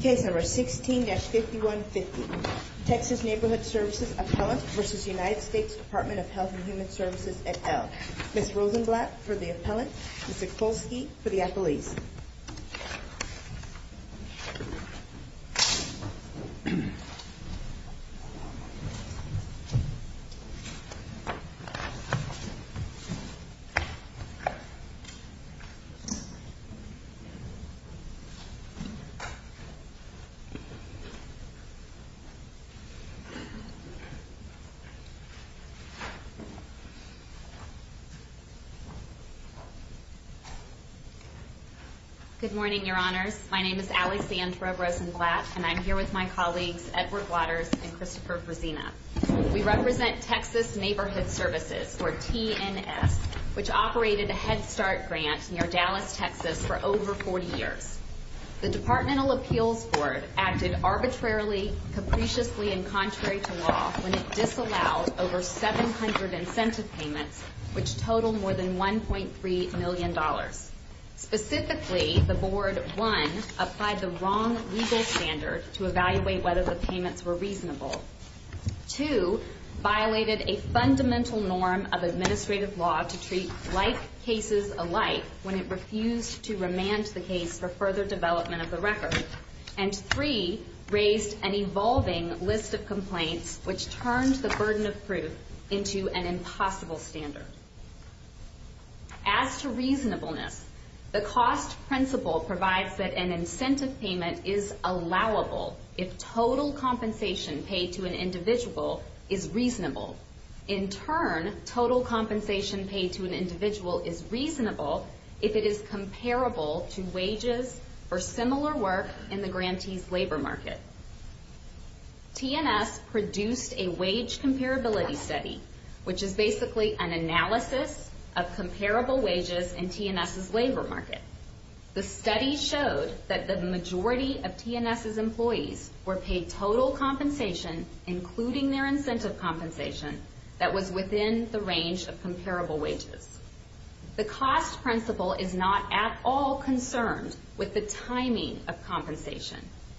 Case number 16-5150, Texas Neighborhood Services Appellant v. United States Department of Health and Human Services et al. Ms. Rosenblatt for the appellant, Mr. Kolsky for the appellees. Good morning, your honors. My name is Alexandra Rosenblatt, and I'm here with my colleagues Edward Waters and Christopher Brezina. We represent Texas Neighborhood Services, or TNS, which operated a Head Start grant near Dallas, Texas, for over 40 years. The Departmental Appeals Board acted arbitrarily, capriciously, and contrary to law when it disallowed over 700 incentive payments, which totaled more than $1.3 million. Specifically, the Board, one, applied the wrong legal standard to evaluate whether the payments were reasonable. Two, violated a fundamental norm of administrative law to treat like cases alike when it refused to remand the case for further development of the record. And three, raised an evolving list of complaints, which turned the burden of proof into an impossible standard. As to reasonableness, the cost principle provides that an incentive payment is allowable if total compensation paid to an individual is reasonable. In turn, total compensation paid to an individual is reasonable if it is comparable to wages or similar work in the grantee's labor market. TNS produced a wage comparability study, which is basically an analysis of comparable wages in TNS's labor market. The study showed that the majority of TNS's employees were paid total compensation, including their incentive compensation, that was within the range of comparable wages. The cost principle is not at all concerned with the timing of compensation.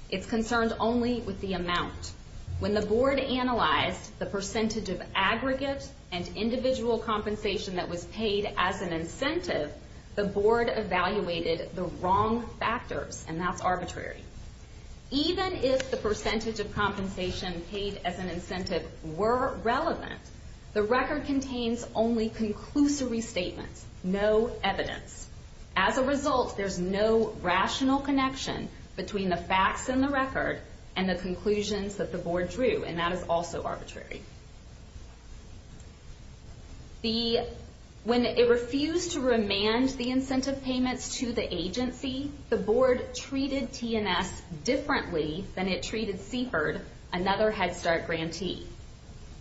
It's concerned only with the amount. When the Board analyzed the percentage of aggregate and individual compensation that was paid as an incentive, the Board evaluated the wrong factors, and that's arbitrary. Even if the percentage of compensation paid as an incentive were relevant, the record contains only conclusory statements, no evidence. As a result, there's no rational connection between the facts in the record and the conclusions that the Board drew, and that is also arbitrary. When it refused to remand the incentive payments to the agency, the Board treated TNS differently than it treated CFIRD, another Head Start grantee.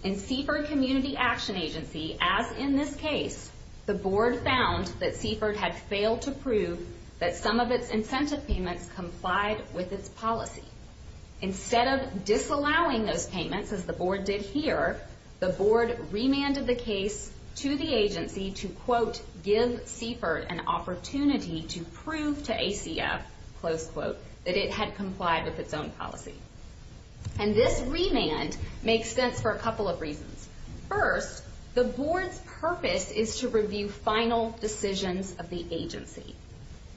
In CFIRD Community Action Agency, as in this case, the Board found that CFIRD had failed to prove that some of its incentive payments complied with its policy. Instead of disallowing those payments, as the Board did here, the Board remanded the case to the agency to, quote, give CFIRD an opportunity to prove to ACF, close quote, that it had complied with its own policy. And this remand makes sense for a couple of reasons. First, the Board's purpose is to review final decisions of the agency.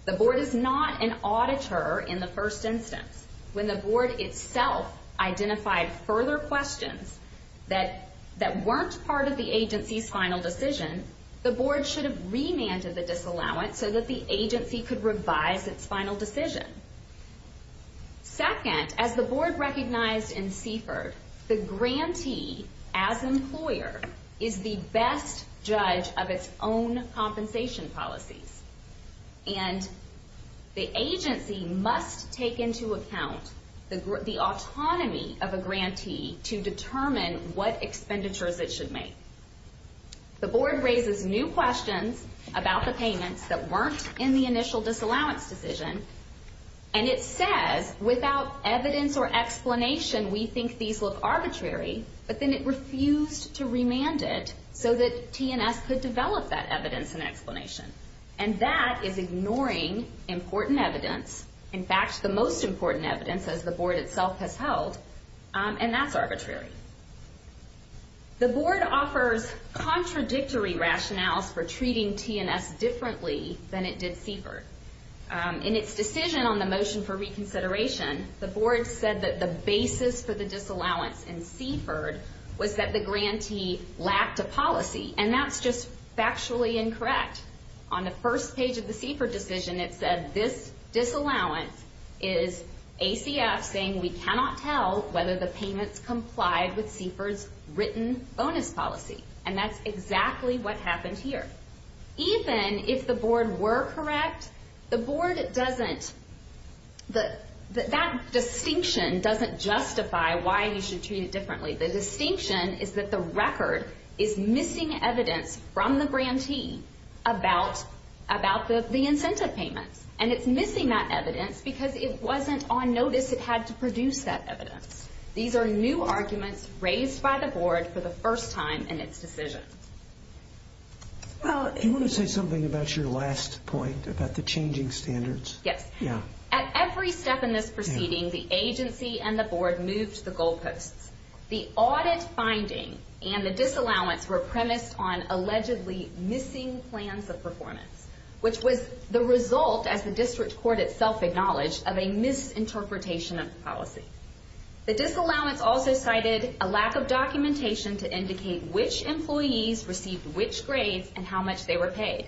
The Board is not an auditor in the first instance. When the Board itself identified further questions that weren't part of the agency's final decision, the Board should have remanded the disallowance so that the agency could revise its final decision. Second, as the Board recognized in CFIRD, the grantee, as employer, is the best judge of its own compensation policies. And the agency must take into account the autonomy of a grantee to determine what expenditures it should make. The Board raises new questions about the payments that weren't in the initial disallowance decision, and it says, without evidence or explanation, we think these look arbitrary. But then it refused to remand it so that T&S could develop that evidence and explanation. And that is ignoring important evidence, in fact, the most important evidence, as the Board itself has held, and that's arbitrary. The Board offers contradictory rationales for treating T&S differently than it did CFIRD. In its decision on the motion for reconsideration, the Board said that the basis for the disallowance in CFIRD was that the grantee lacked a policy, and that's just factually incorrect. On the first page of the CFIRD decision, it said this disallowance is ACF saying we cannot tell whether the payments complied with CFIRD's written bonus policy, and that's exactly what happened here. Even if the Board were correct, that distinction doesn't justify why you should treat it differently. The distinction is that the record is missing evidence from the grantee about the incentive payments, and it's missing that evidence because it wasn't on notice it had to produce that evidence. These are new arguments raised by the Board for the first time in its decision. Do you want to say something about your last point about the changing standards? Yes. At every step in this proceeding, the agency and the Board moved the goalposts. The audit finding and the disallowance were premised on allegedly missing plans of performance, which was the result, as the district court itself acknowledged, of a misinterpretation of the policy. The disallowance also cited a lack of documentation to indicate which employees received which grades and how much they were paid.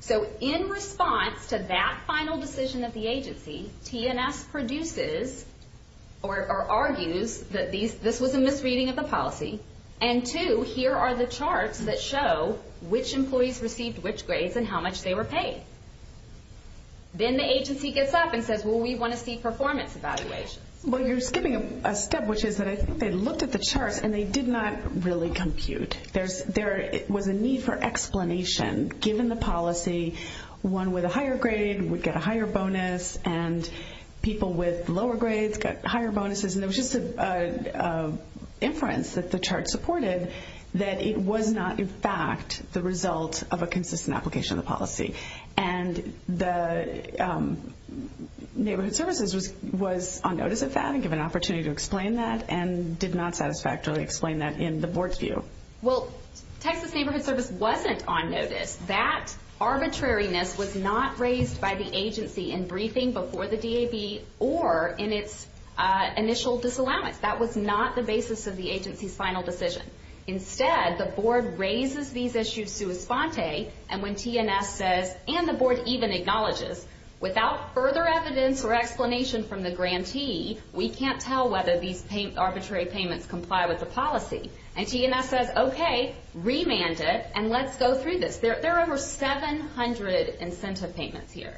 So in response to that final decision of the agency, T&S produces or argues that this was a misreading of the policy, and two, here are the charts that show which employees received which grades and how much they were paid. Then the agency gets up and says, well, we want to see performance evaluations. Well, you're skipping a step, which is that I think they looked at the charts and they did not really compute. There was a need for explanation. Given the policy, one with a higher grade would get a higher bonus, and people with lower grades got higher bonuses, and it was just an inference that the chart supported that it was not in fact the result of a consistent application of the policy. And the Neighborhood Services was on notice of that and given an opportunity to explain that and did not satisfactorily explain that in the board's view. Well, Texas Neighborhood Service wasn't on notice. That arbitrariness was not raised by the agency in briefing before the DAB or in its initial disallowance. That was not the basis of the agency's final decision. Instead, the board raises these issues sua sponte, and when TNS says, and the board even acknowledges, without further evidence or explanation from the grantee, we can't tell whether these arbitrary payments comply with the policy. And TNS says, okay, remand it, and let's go through this. There are over 700 incentive payments here,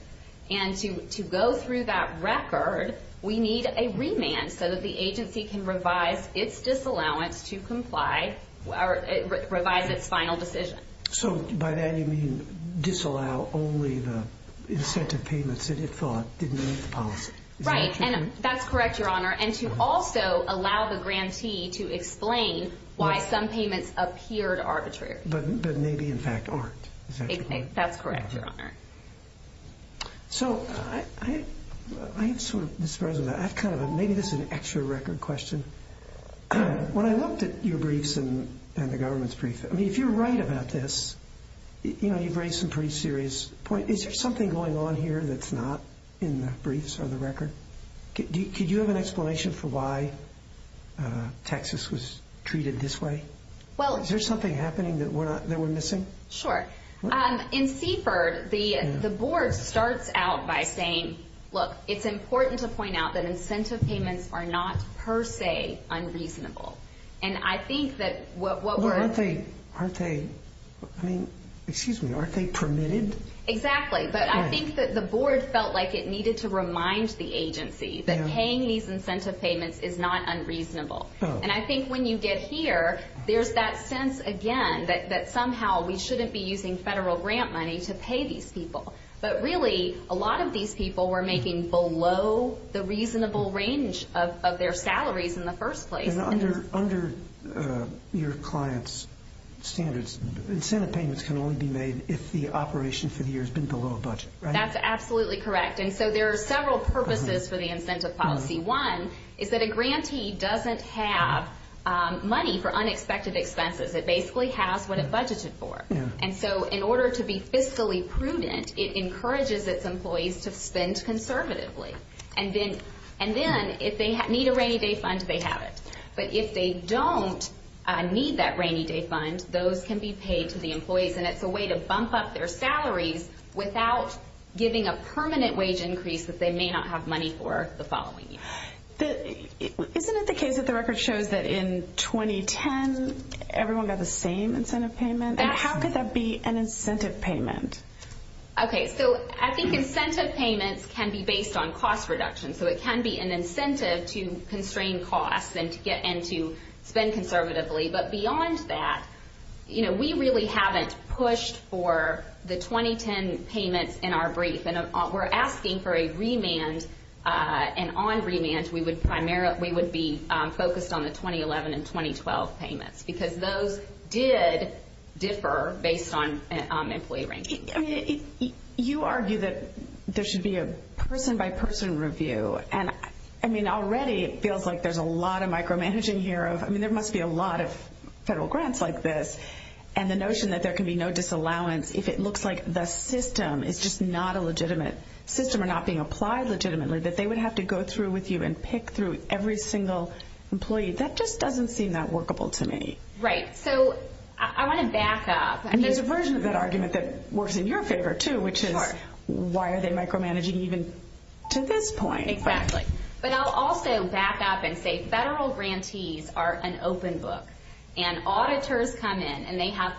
and to go through that record, we need a remand so that the agency can revise its disallowance to comply or revise its final decision. So by that you mean disallow only the incentive payments that it thought didn't meet the policy. Right, and that's correct, Your Honor, and to also allow the grantee to explain why some payments appeared arbitrary. But maybe in fact aren't. That's correct, Your Honor. So I'm sort of surprised about that. Maybe this is an extra record question. When I looked at your briefs and the government's briefs, I mean, if you're right about this, you know, you've raised some pretty serious points. Is there something going on here that's not in the briefs or the record? Could you have an explanation for why Texas was treated this way? Is there something happening that we're missing? Sure. In Seaford, the board starts out by saying, look, it's important to point out that incentive payments are not per se unreasonable. And I think that what we're- Aren't they, I mean, excuse me, aren't they permitted? Exactly, but I think that the board felt like it needed to remind the agency that paying these incentive payments is not unreasonable. And I think when you get here, there's that sense, again, that somehow we shouldn't be using federal grant money to pay these people. But really, a lot of these people were making below the reasonable range of their salaries in the first place. And under your client's standards, incentive payments can only be made if the operation for the year has been below budget, right? That's absolutely correct. And so there are several purposes for the incentive policy. One is that a grantee doesn't have money for unexpected expenses. It basically has what it budgeted for. And so in order to be fiscally prudent, it encourages its employees to spend conservatively. And then if they need a rainy day fund, they have it. But if they don't need that rainy day fund, those can be paid to the employees. And it's a way to bump up their salaries without giving a permanent wage increase that they may not have money for the following year. Isn't it the case that the record shows that in 2010, everyone got the same incentive payment? And how could that be an incentive payment? Okay, so I think incentive payments can be based on cost reduction. So it can be an incentive to constrain costs and to spend conservatively. But beyond that, you know, we really haven't pushed for the 2010 payments in our brief. And we're asking for a remand. And on remand, we would be focused on the 2011 and 2012 payments because those did differ based on employee rankings. You argue that there should be a person-by-person review. And, I mean, already it feels like there's a lot of micromanaging here. I mean, there must be a lot of federal grants like this. And the notion that there can be no disallowance if it looks like the system is just not a legitimate system or not being applied legitimately, that they would have to go through with you and pick through every single employee, that just doesn't seem that workable to me. Right. So I want to back up. And there's a version of that argument that works in your favor, too, which is why are they micromanaging even to this point? Exactly. But I'll also back up and say federal grantees are an open book. And auditors come in, and they have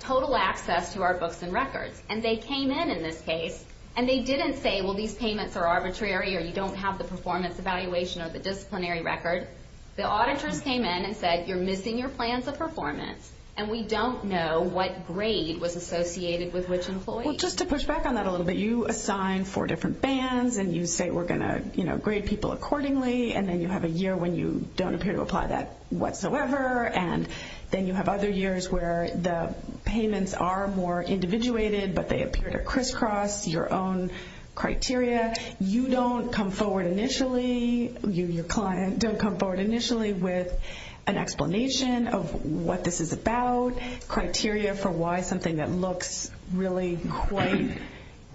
total access to our books and records. And they came in in this case, and they didn't say, well, these payments are arbitrary or you don't have the performance evaluation or the disciplinary record. The auditors came in and said, you're missing your plans of performance, and we don't know what grade was associated with which employee. Well, just to push back on that a little bit, you assign four different bands, and you say we're going to grade people accordingly, and then you have a year when you don't appear to apply that whatsoever. And then you have other years where the payments are more individuated, but they appear to crisscross your own criteria. You don't come forward initially, you, your client, don't come forward initially with an explanation of what this is about, criteria for why something that looks really quite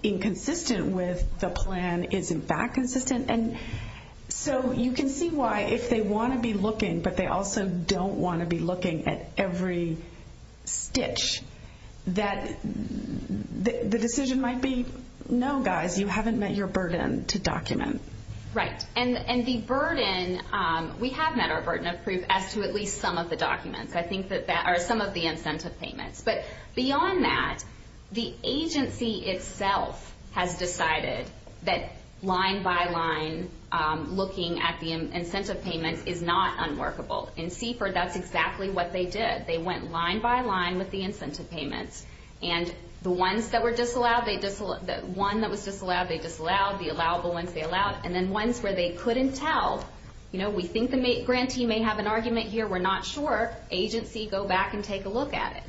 inconsistent with the plan isn't that consistent. And so you can see why if they want to be looking, but they also don't want to be looking at every stitch, that the decision might be, no, guys, you haven't met your burden to document. Right. And the burden, we have met our burden of proof as to at least some of the documents. I think that, or some of the incentive payments. But beyond that, the agency itself has decided that line by line looking at the incentive payments is not unworkable. In CFER, that's exactly what they did. They went line by line with the incentive payments. And the ones that were disallowed, the one that was disallowed, they disallowed. The allowable ones, they allowed. And then ones where they couldn't tell, you know, we think the grantee may have an argument here, we're not sure. Agency, go back and take a look at it.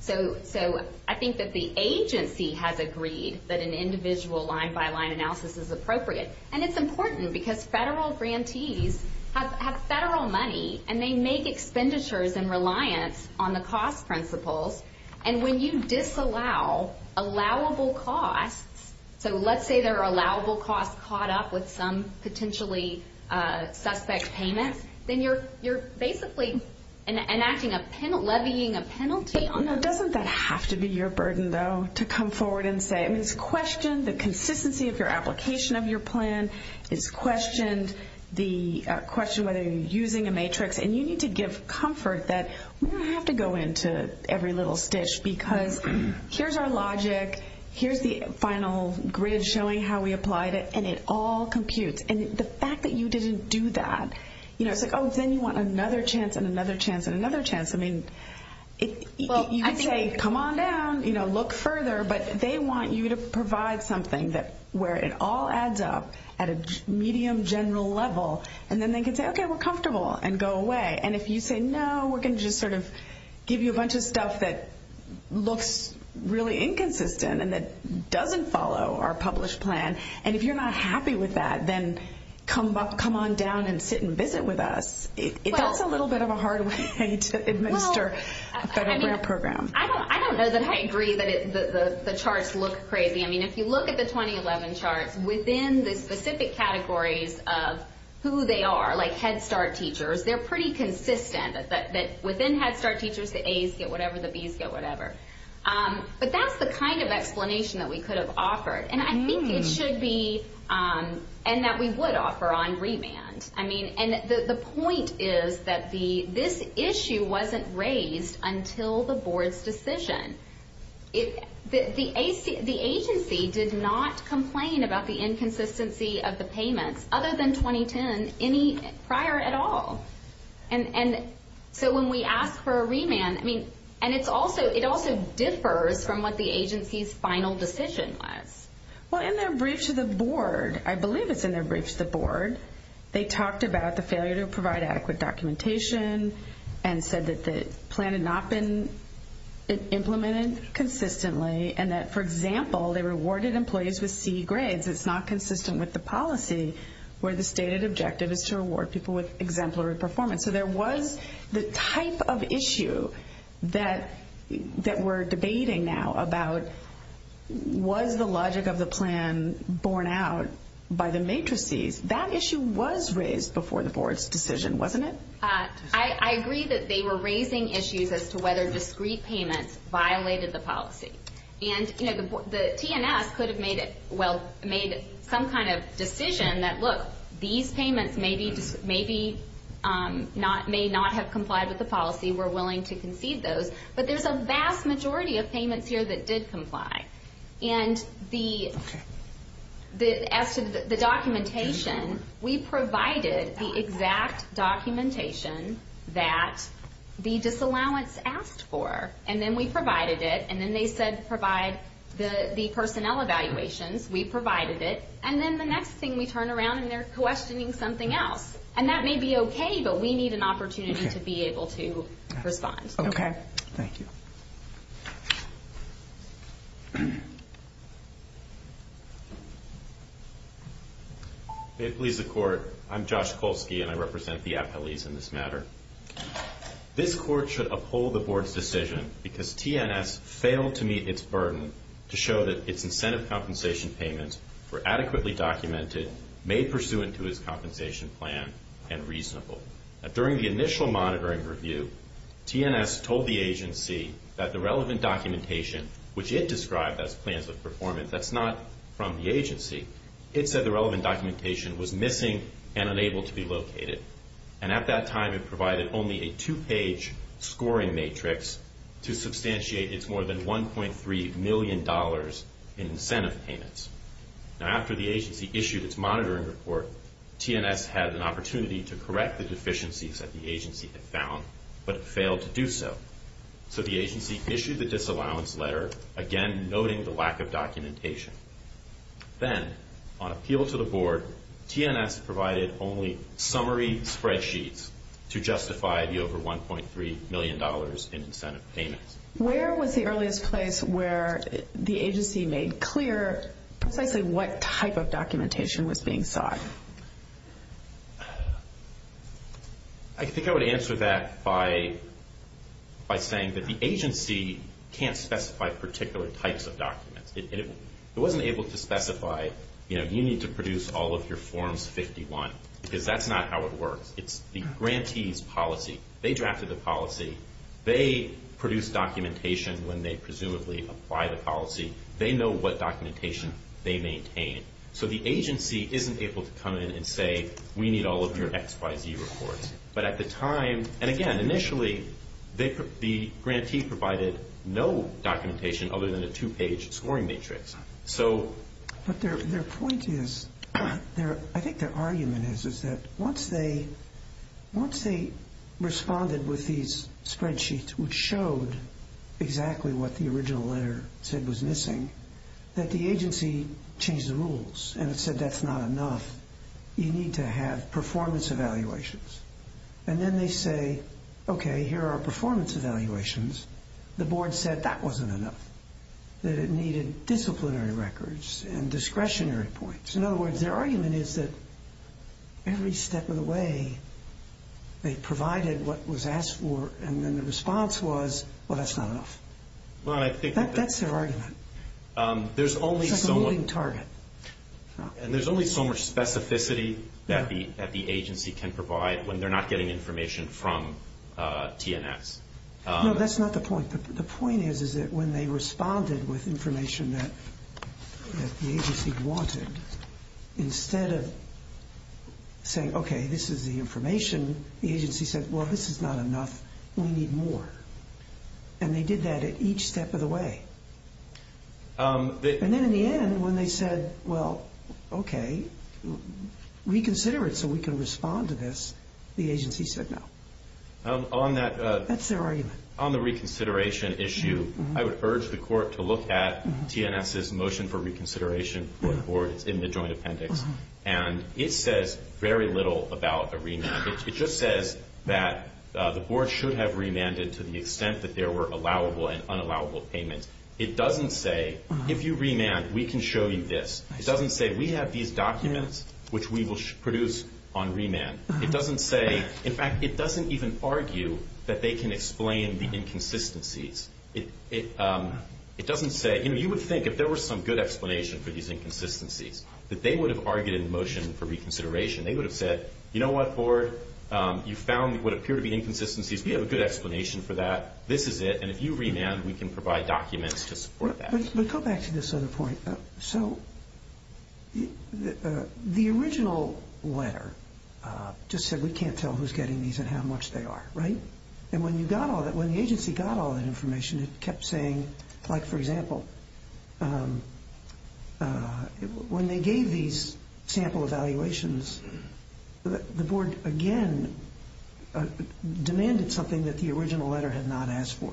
So I think that the agency has agreed that an individual line by line analysis is appropriate. And it's important because federal grantees have federal money, and they make expenditures in reliance on the cost principles. And when you disallow allowable costs, so let's say there are allowable costs caught up with some potentially suspect payments, then you're basically enacting a penalty, levying a penalty. Now, doesn't that have to be your burden, though, to come forward and say, I mean, it's questioned the consistency of your application of your plan. It's questioned the question whether you're using a matrix. And you need to give comfort that we don't have to go into every little stitch because here's our logic. Here's the final grid showing how we applied it. And it all computes. And the fact that you didn't do that, you know, it's like, oh, then you want another chance and another chance and another chance. I mean, you could say, come on down, you know, look further. But they want you to provide something where it all adds up at a medium general level. And then they can say, okay, we're comfortable and go away. And if you say, no, we're going to just sort of give you a bunch of stuff that looks really inconsistent and that doesn't follow our published plan. And if you're not happy with that, then come on down and sit and visit with us. That's a little bit of a hard way to administer a federal grant program. I don't know that I agree that the charts look crazy. I mean, if you look at the 2011 charts, within the specific categories of who they are, like Head Start teachers, they're pretty consistent. Within Head Start teachers, the As get whatever, the Bs get whatever. But that's the kind of explanation that we could have offered. And I think it should be and that we would offer on remand. I mean, and the point is that this issue wasn't raised until the board's decision. The agency did not complain about the inconsistency of the payments, other than 2010, any prior at all. And so when we ask for a remand, I mean, and it also differs from what the agency's final decision was. Well, in their brief to the board, I believe it's in their brief to the board, they talked about the failure to provide adequate documentation and said that the plan had not been implemented consistently. And that, for example, they rewarded employees with C grades. It's not consistent with the policy where the stated objective is to reward people with exemplary performance. So there was the type of issue that we're debating now about was the logic of the plan borne out by the matrices. That issue was raised before the board's decision, wasn't it? I agree that they were raising issues as to whether discrete payments violated the policy. And, you know, the TNS could have made some kind of decision that, look, these payments may not have complied with the policy, we're willing to concede those. But there's a vast majority of payments here that did comply. And as to the documentation, we provided the exact documentation that the disallowance asked for. And then we provided it. And then they said provide the personnel evaluations. We provided it. And then the next thing we turn around and they're questioning something else. And that may be okay, but we need an opportunity to be able to respond. Okay. Thank you. May it please the Court, I'm Josh Kolsky and I represent the appellees in this matter. This Court should uphold the board's decision because TNS failed to meet its burden to show that its incentive compensation payments were adequately documented, made pursuant to its compensation plan, and reasonable. During the initial monitoring review, TNS told the agency that the relevant documentation, which it described as plans of performance, that's not from the agency, it said the relevant documentation was missing and unable to be located. And at that time it provided only a two-page scoring matrix to substantiate its more than $1.3 million in incentive payments. Now after the agency issued its monitoring report, TNS had an opportunity to correct the deficiencies that the agency had found, but failed to do so. So the agency issued the disallowance letter, again noting the lack of documentation. Then, on appeal to the board, TNS provided only summary spreadsheets to justify the over $1.3 million in incentive payments. Where was the earliest place where the agency made clear precisely what type of documentation was being sought? I think I would answer that by saying that the agency can't specify particular types of documents. It wasn't able to specify, you know, you need to produce all of your forms 51, because that's not how it works. It's the grantee's policy. They drafted the policy. They produce documentation when they presumably apply the policy. They know what documentation they maintain. So the agency isn't able to come in and say, we need all of your X, Y, Z reports. But at the time, and again, initially, the grantee provided no documentation other than a two-page scoring matrix. But their point is, I think their argument is, is that once they responded with these spreadsheets which showed exactly what the original letter said was missing, that the agency changed the rules and it said that's not enough. You need to have performance evaluations. And then they say, okay, here are performance evaluations. The board said that wasn't enough, that it needed disciplinary records and discretionary points. In other words, their argument is that every step of the way they provided what was asked for and then the response was, well, that's not enough. That's their argument. It's like a moving target. And there's only so much specificity that the agency can provide when they're not getting information from TNS. No, that's not the point. The point is that when they responded with information that the agency wanted, instead of saying, okay, this is the information, the agency said, well, this is not enough, we need more. And they did that at each step of the way. And then in the end, when they said, well, okay, reconsider it so we can respond to this, the agency said no. That's their argument. On the reconsideration issue, I would urge the court to look at TNS's motion for reconsideration for the board. It's in the joint appendix. And it says very little about a remand. It just says that the board should have remanded to the extent that there were allowable and unallowable payments. It doesn't say, if you remand, we can show you this. It doesn't say, we have these documents which we will produce on remand. It doesn't say, in fact, it doesn't even argue that they can explain the inconsistencies. It doesn't say, you know, you would think if there were some good explanation for these inconsistencies that they would have argued in the motion for reconsideration. They would have said, you know what, board, you found what appear to be inconsistencies. We have a good explanation for that. This is it. And if you remand, we can provide documents to support that. But go back to this other point. So the original letter just said we can't tell who's getting these and how much they are, right? And when you got all that, when the agency got all that information, it kept saying, like, for example, when they gave these sample evaluations, the board, again, demanded something that the original letter had not asked for,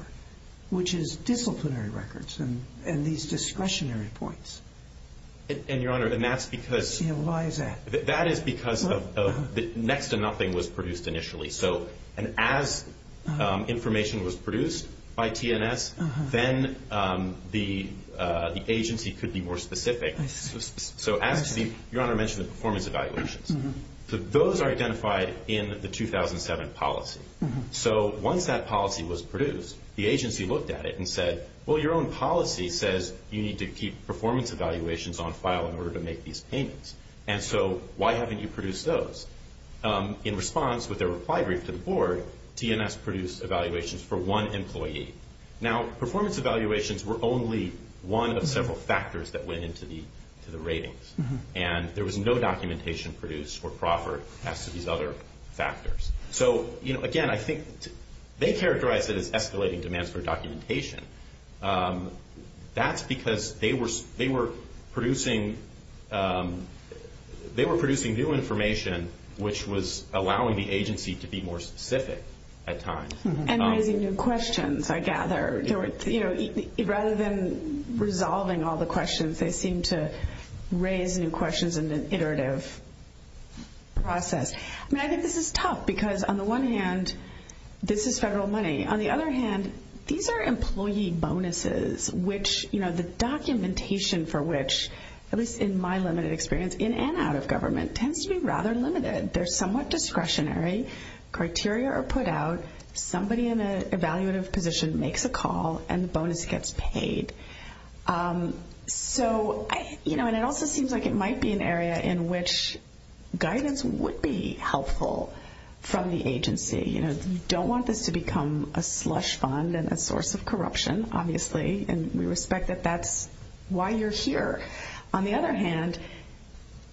which is disciplinary records and these discretionary points. And, Your Honor, and that's because... Why is that? That is because of the next to nothing was produced initially. And as information was produced by TNS, then the agency could be more specific. So as the, Your Honor mentioned the performance evaluations. Those are identified in the 2007 policy. So once that policy was produced, the agency looked at it and said, well, your own policy says you need to keep performance evaluations on file in order to make these payments. And so why haven't you produced those? In response, with a reply brief to the board, TNS produced evaluations for one employee. Now, performance evaluations were only one of several factors that went into the ratings. And there was no documentation produced or proffered as to these other factors. So, again, I think they characterized it as escalating demands for documentation. That's because they were producing new information, which was allowing the agency to be more specific at times. And raising new questions, I gather. Rather than resolving all the questions, they seemed to raise new questions in an iterative process. I mean, I think this is tough because, on the one hand, this is federal money. On the other hand, these are employee bonuses, which, you know, the documentation for which, at least in my limited experience in and out of government, tends to be rather limited. They're somewhat discretionary. Criteria are put out. Somebody in an evaluative position makes a call, and the bonus gets paid. So, you know, and it also seems like it might be an area in which guidance would be helpful from the agency. You know, you don't want this to become a slush fund and a source of corruption, obviously, and we respect that that's why you're here. On the other hand,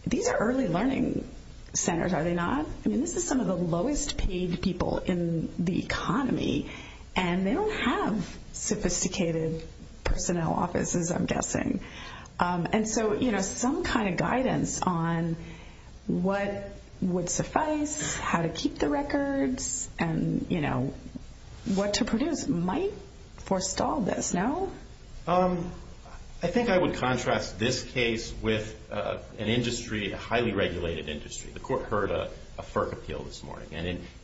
these are early learning centers, are they not? I mean, this is some of the lowest paid people in the economy, and they don't have sophisticated personnel offices, I'm guessing. And so, you know, some kind of guidance on what would suffice, how to keep the records, and, you know, what to produce might forestall this, no? I think I would contrast this case with an industry, a highly regulated industry.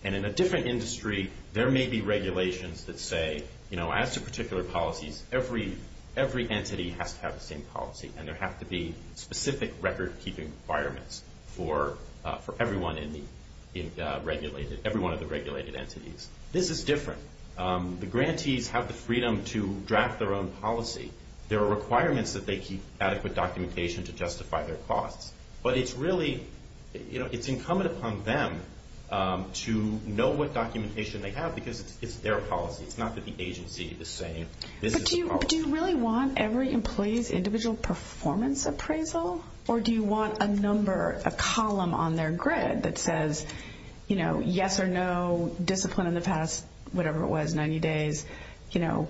And in a different industry, there may be regulations that say, you know, as to particular policies, every entity has to have the same policy, and there have to be specific record-keeping requirements for everyone in the regulated, every one of the regulated entities. This is different. The grantees have the freedom to draft their own policy. There are requirements that they keep adequate documentation to justify their costs, but it's really, you know, it's incumbent upon them to know what documentation they have because it's their policy. It's not that the agency is saying this is the policy. But do you really want every employee's individual performance appraisal, or do you want a number, a column on their grid that says, you know, yes or no, discipline in the past whatever it was, 90 days, you know,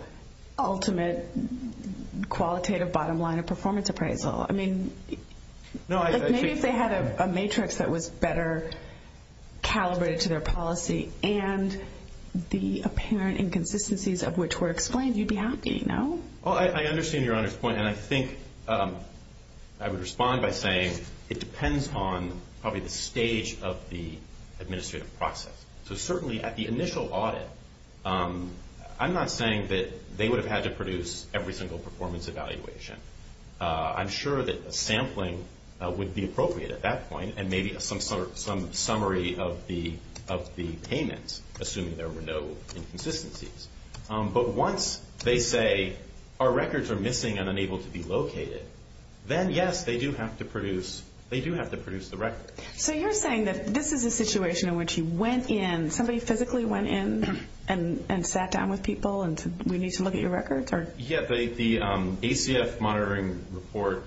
ultimate qualitative bottom line of performance appraisal? I mean, maybe if they had a matrix that was better calibrated to their policy and the apparent inconsistencies of which were explained, you'd be happy, no? Well, I understand Your Honor's point, and I think I would respond by saying it depends on probably the stage of the administrative process. So certainly at the initial audit, I'm not saying that they would have had to produce every single performance evaluation. I'm sure that sampling would be appropriate at that point and maybe some summary of the payments, assuming there were no inconsistencies. But once they say our records are missing and unable to be located, then, yes, they do have to produce the record. So you're saying that this is a situation in which you went in, somebody physically went in and sat down with people and said we need to look at your records? Yeah, the ACF monitoring report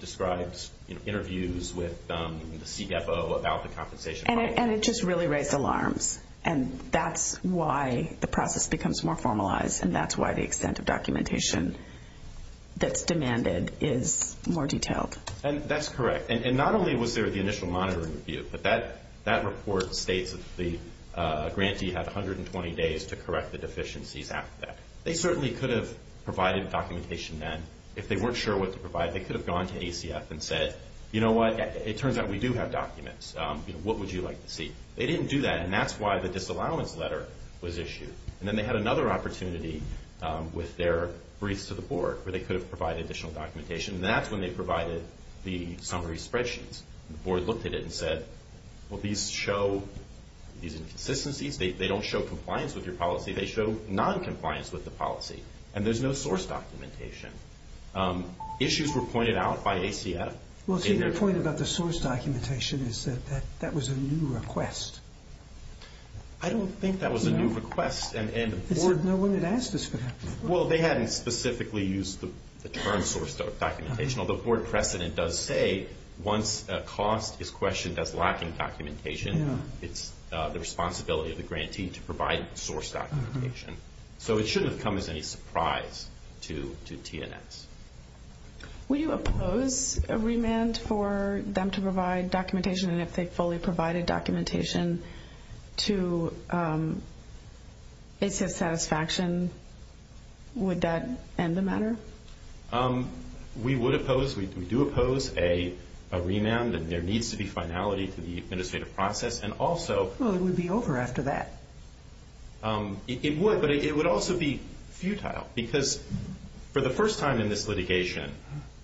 describes interviews with the CFO about the compensation. And it just really raised alarms, and that's why the process becomes more formalized, and that's why the extent of documentation that's demanded is more detailed. And that's correct. And not only was there the initial monitoring review, but that report states that the grantee had 120 days to correct the deficiencies after that. They certainly could have provided documentation then. If they weren't sure what to provide, they could have gone to ACF and said, you know what, it turns out we do have documents. What would you like to see? They didn't do that, and that's why the disallowance letter was issued. And then they had another opportunity with their briefs to the board where they could have provided additional documentation, and that's when they provided the summary spreadsheets. The board looked at it and said, well, these show these inconsistencies. They don't show compliance with your policy. They show noncompliance with the policy, and there's no source documentation. Issues were pointed out by ACF. Well, see, the point about the source documentation is that that was a new request. I don't think that was a new request. No one had asked us for that before. Well, they hadn't specifically used the term source documentation, although board precedent does say once a cost is questioned as lacking documentation, it's the responsibility of the grantee to provide source documentation. So it shouldn't have come as any surprise to TNS. Would you oppose a remand for them to provide documentation, and if they fully provided documentation to ACF satisfaction, would that end the matter? We would oppose. We do oppose a remand, and there needs to be finality to the administrative process. And also— Well, it would be over after that. It would, but it would also be futile because for the first time in this litigation,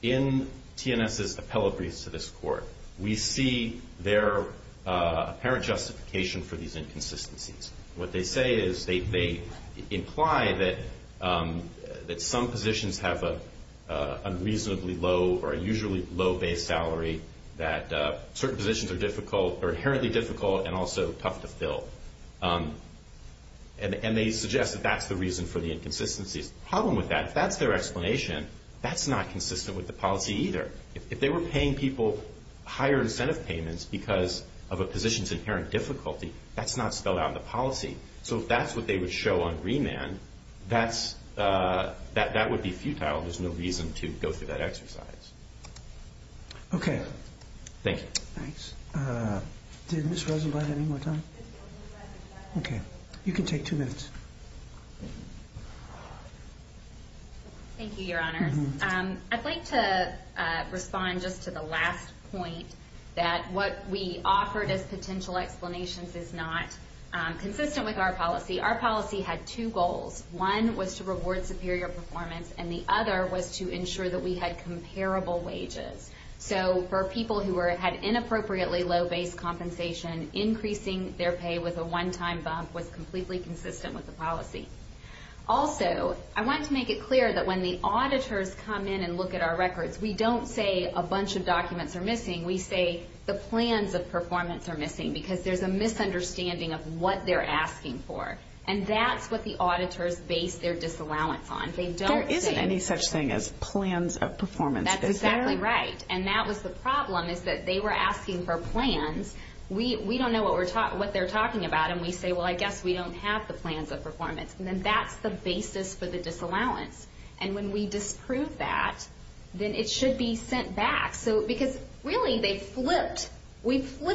in TNS's appellate briefs to this court, we see their apparent justification for these inconsistencies. What they say is they imply that some positions have an unreasonably low or a usually low base salary that certain positions are inherently difficult and also tough to fill. And they suggest that that's the reason for the inconsistencies. The problem with that, if that's their explanation, that's not consistent with the policy either. If they were paying people higher incentive payments because of a position's inherent difficulty, that's not spelled out in the policy. So if that's what they would show on remand, that would be futile. There's no reason to go through that exercise. Okay. Thank you. Thanks. Did Ms. Rosenblatt have any more time? Okay. You can take two minutes. Thank you, Your Honors. I'd like to respond just to the last point that what we offered as potential explanations is not consistent with our policy. Our policy had two goals. One was to reward superior performance, and the other was to ensure that we had comparable wages. So for people who had inappropriately low base compensation, increasing their pay with a one-time bump was completely consistent with the policy. Also, I want to make it clear that when the auditors come in and look at our records, we don't say a bunch of documents are missing. We say the plans of performance are missing because there's a misunderstanding of what they're asking for, and that's what the auditors base their disallowance on. There isn't any such thing as plans of performance, is there? That's exactly right, and that was the problem, is that they were asking for plans. We don't know what they're talking about, and we say, well, I guess we don't have the plans of performance. And then that's the basis for the disallowance. And when we disprove that, then it should be sent back. Because, really, we flipped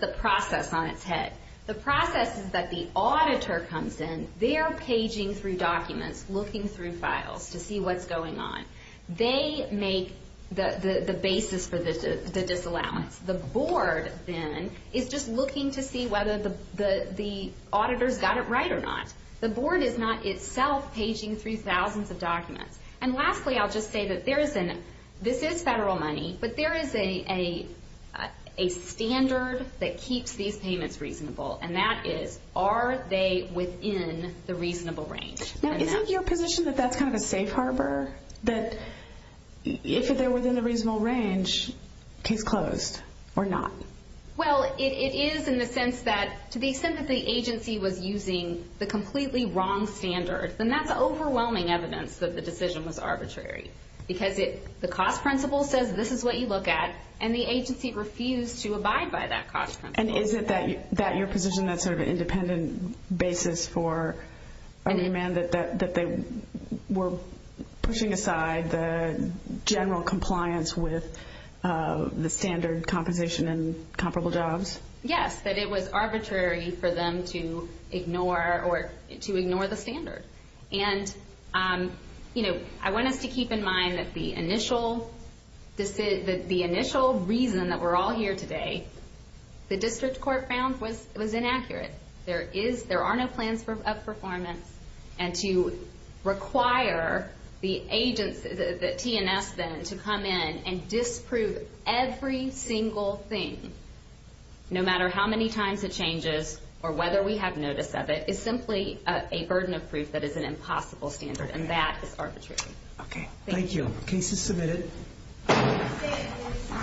the process on its head. The process is that the auditor comes in. They are paging through documents, looking through files to see what's going on. They make the basis for the disallowance. The board, then, is just looking to see whether the auditor's got it right or not. The board is not itself paging through thousands of documents. And lastly, I'll just say that this is federal money, but there is a standard that keeps these payments reasonable, and that is, are they within the reasonable range? Now, isn't your position that that's kind of a safe harbor, that if they're within a reasonable range, case closed or not? Well, it is in the sense that, to the extent that the agency was using the completely wrong standard, then that's overwhelming evidence that the decision was arbitrary. Because the cost principle says this is what you look at, and the agency refused to abide by that cost principle. And is it that your position that's sort of an independent basis for a demand that they were pushing aside the general compliance with the standard composition and comparable jobs? Yes, that it was arbitrary for them to ignore the standard. And, you know, I want us to keep in mind that the initial reason that we're all here today, the district court found was inaccurate. There are no plans of performance. And to require the T&S, then, to come in and disprove every single thing, no matter how many times it changes or whether we have notice of it, is simply a burden of proof that is an impossible standard, and that is arbitrary. Okay. Thank you. Case is submitted.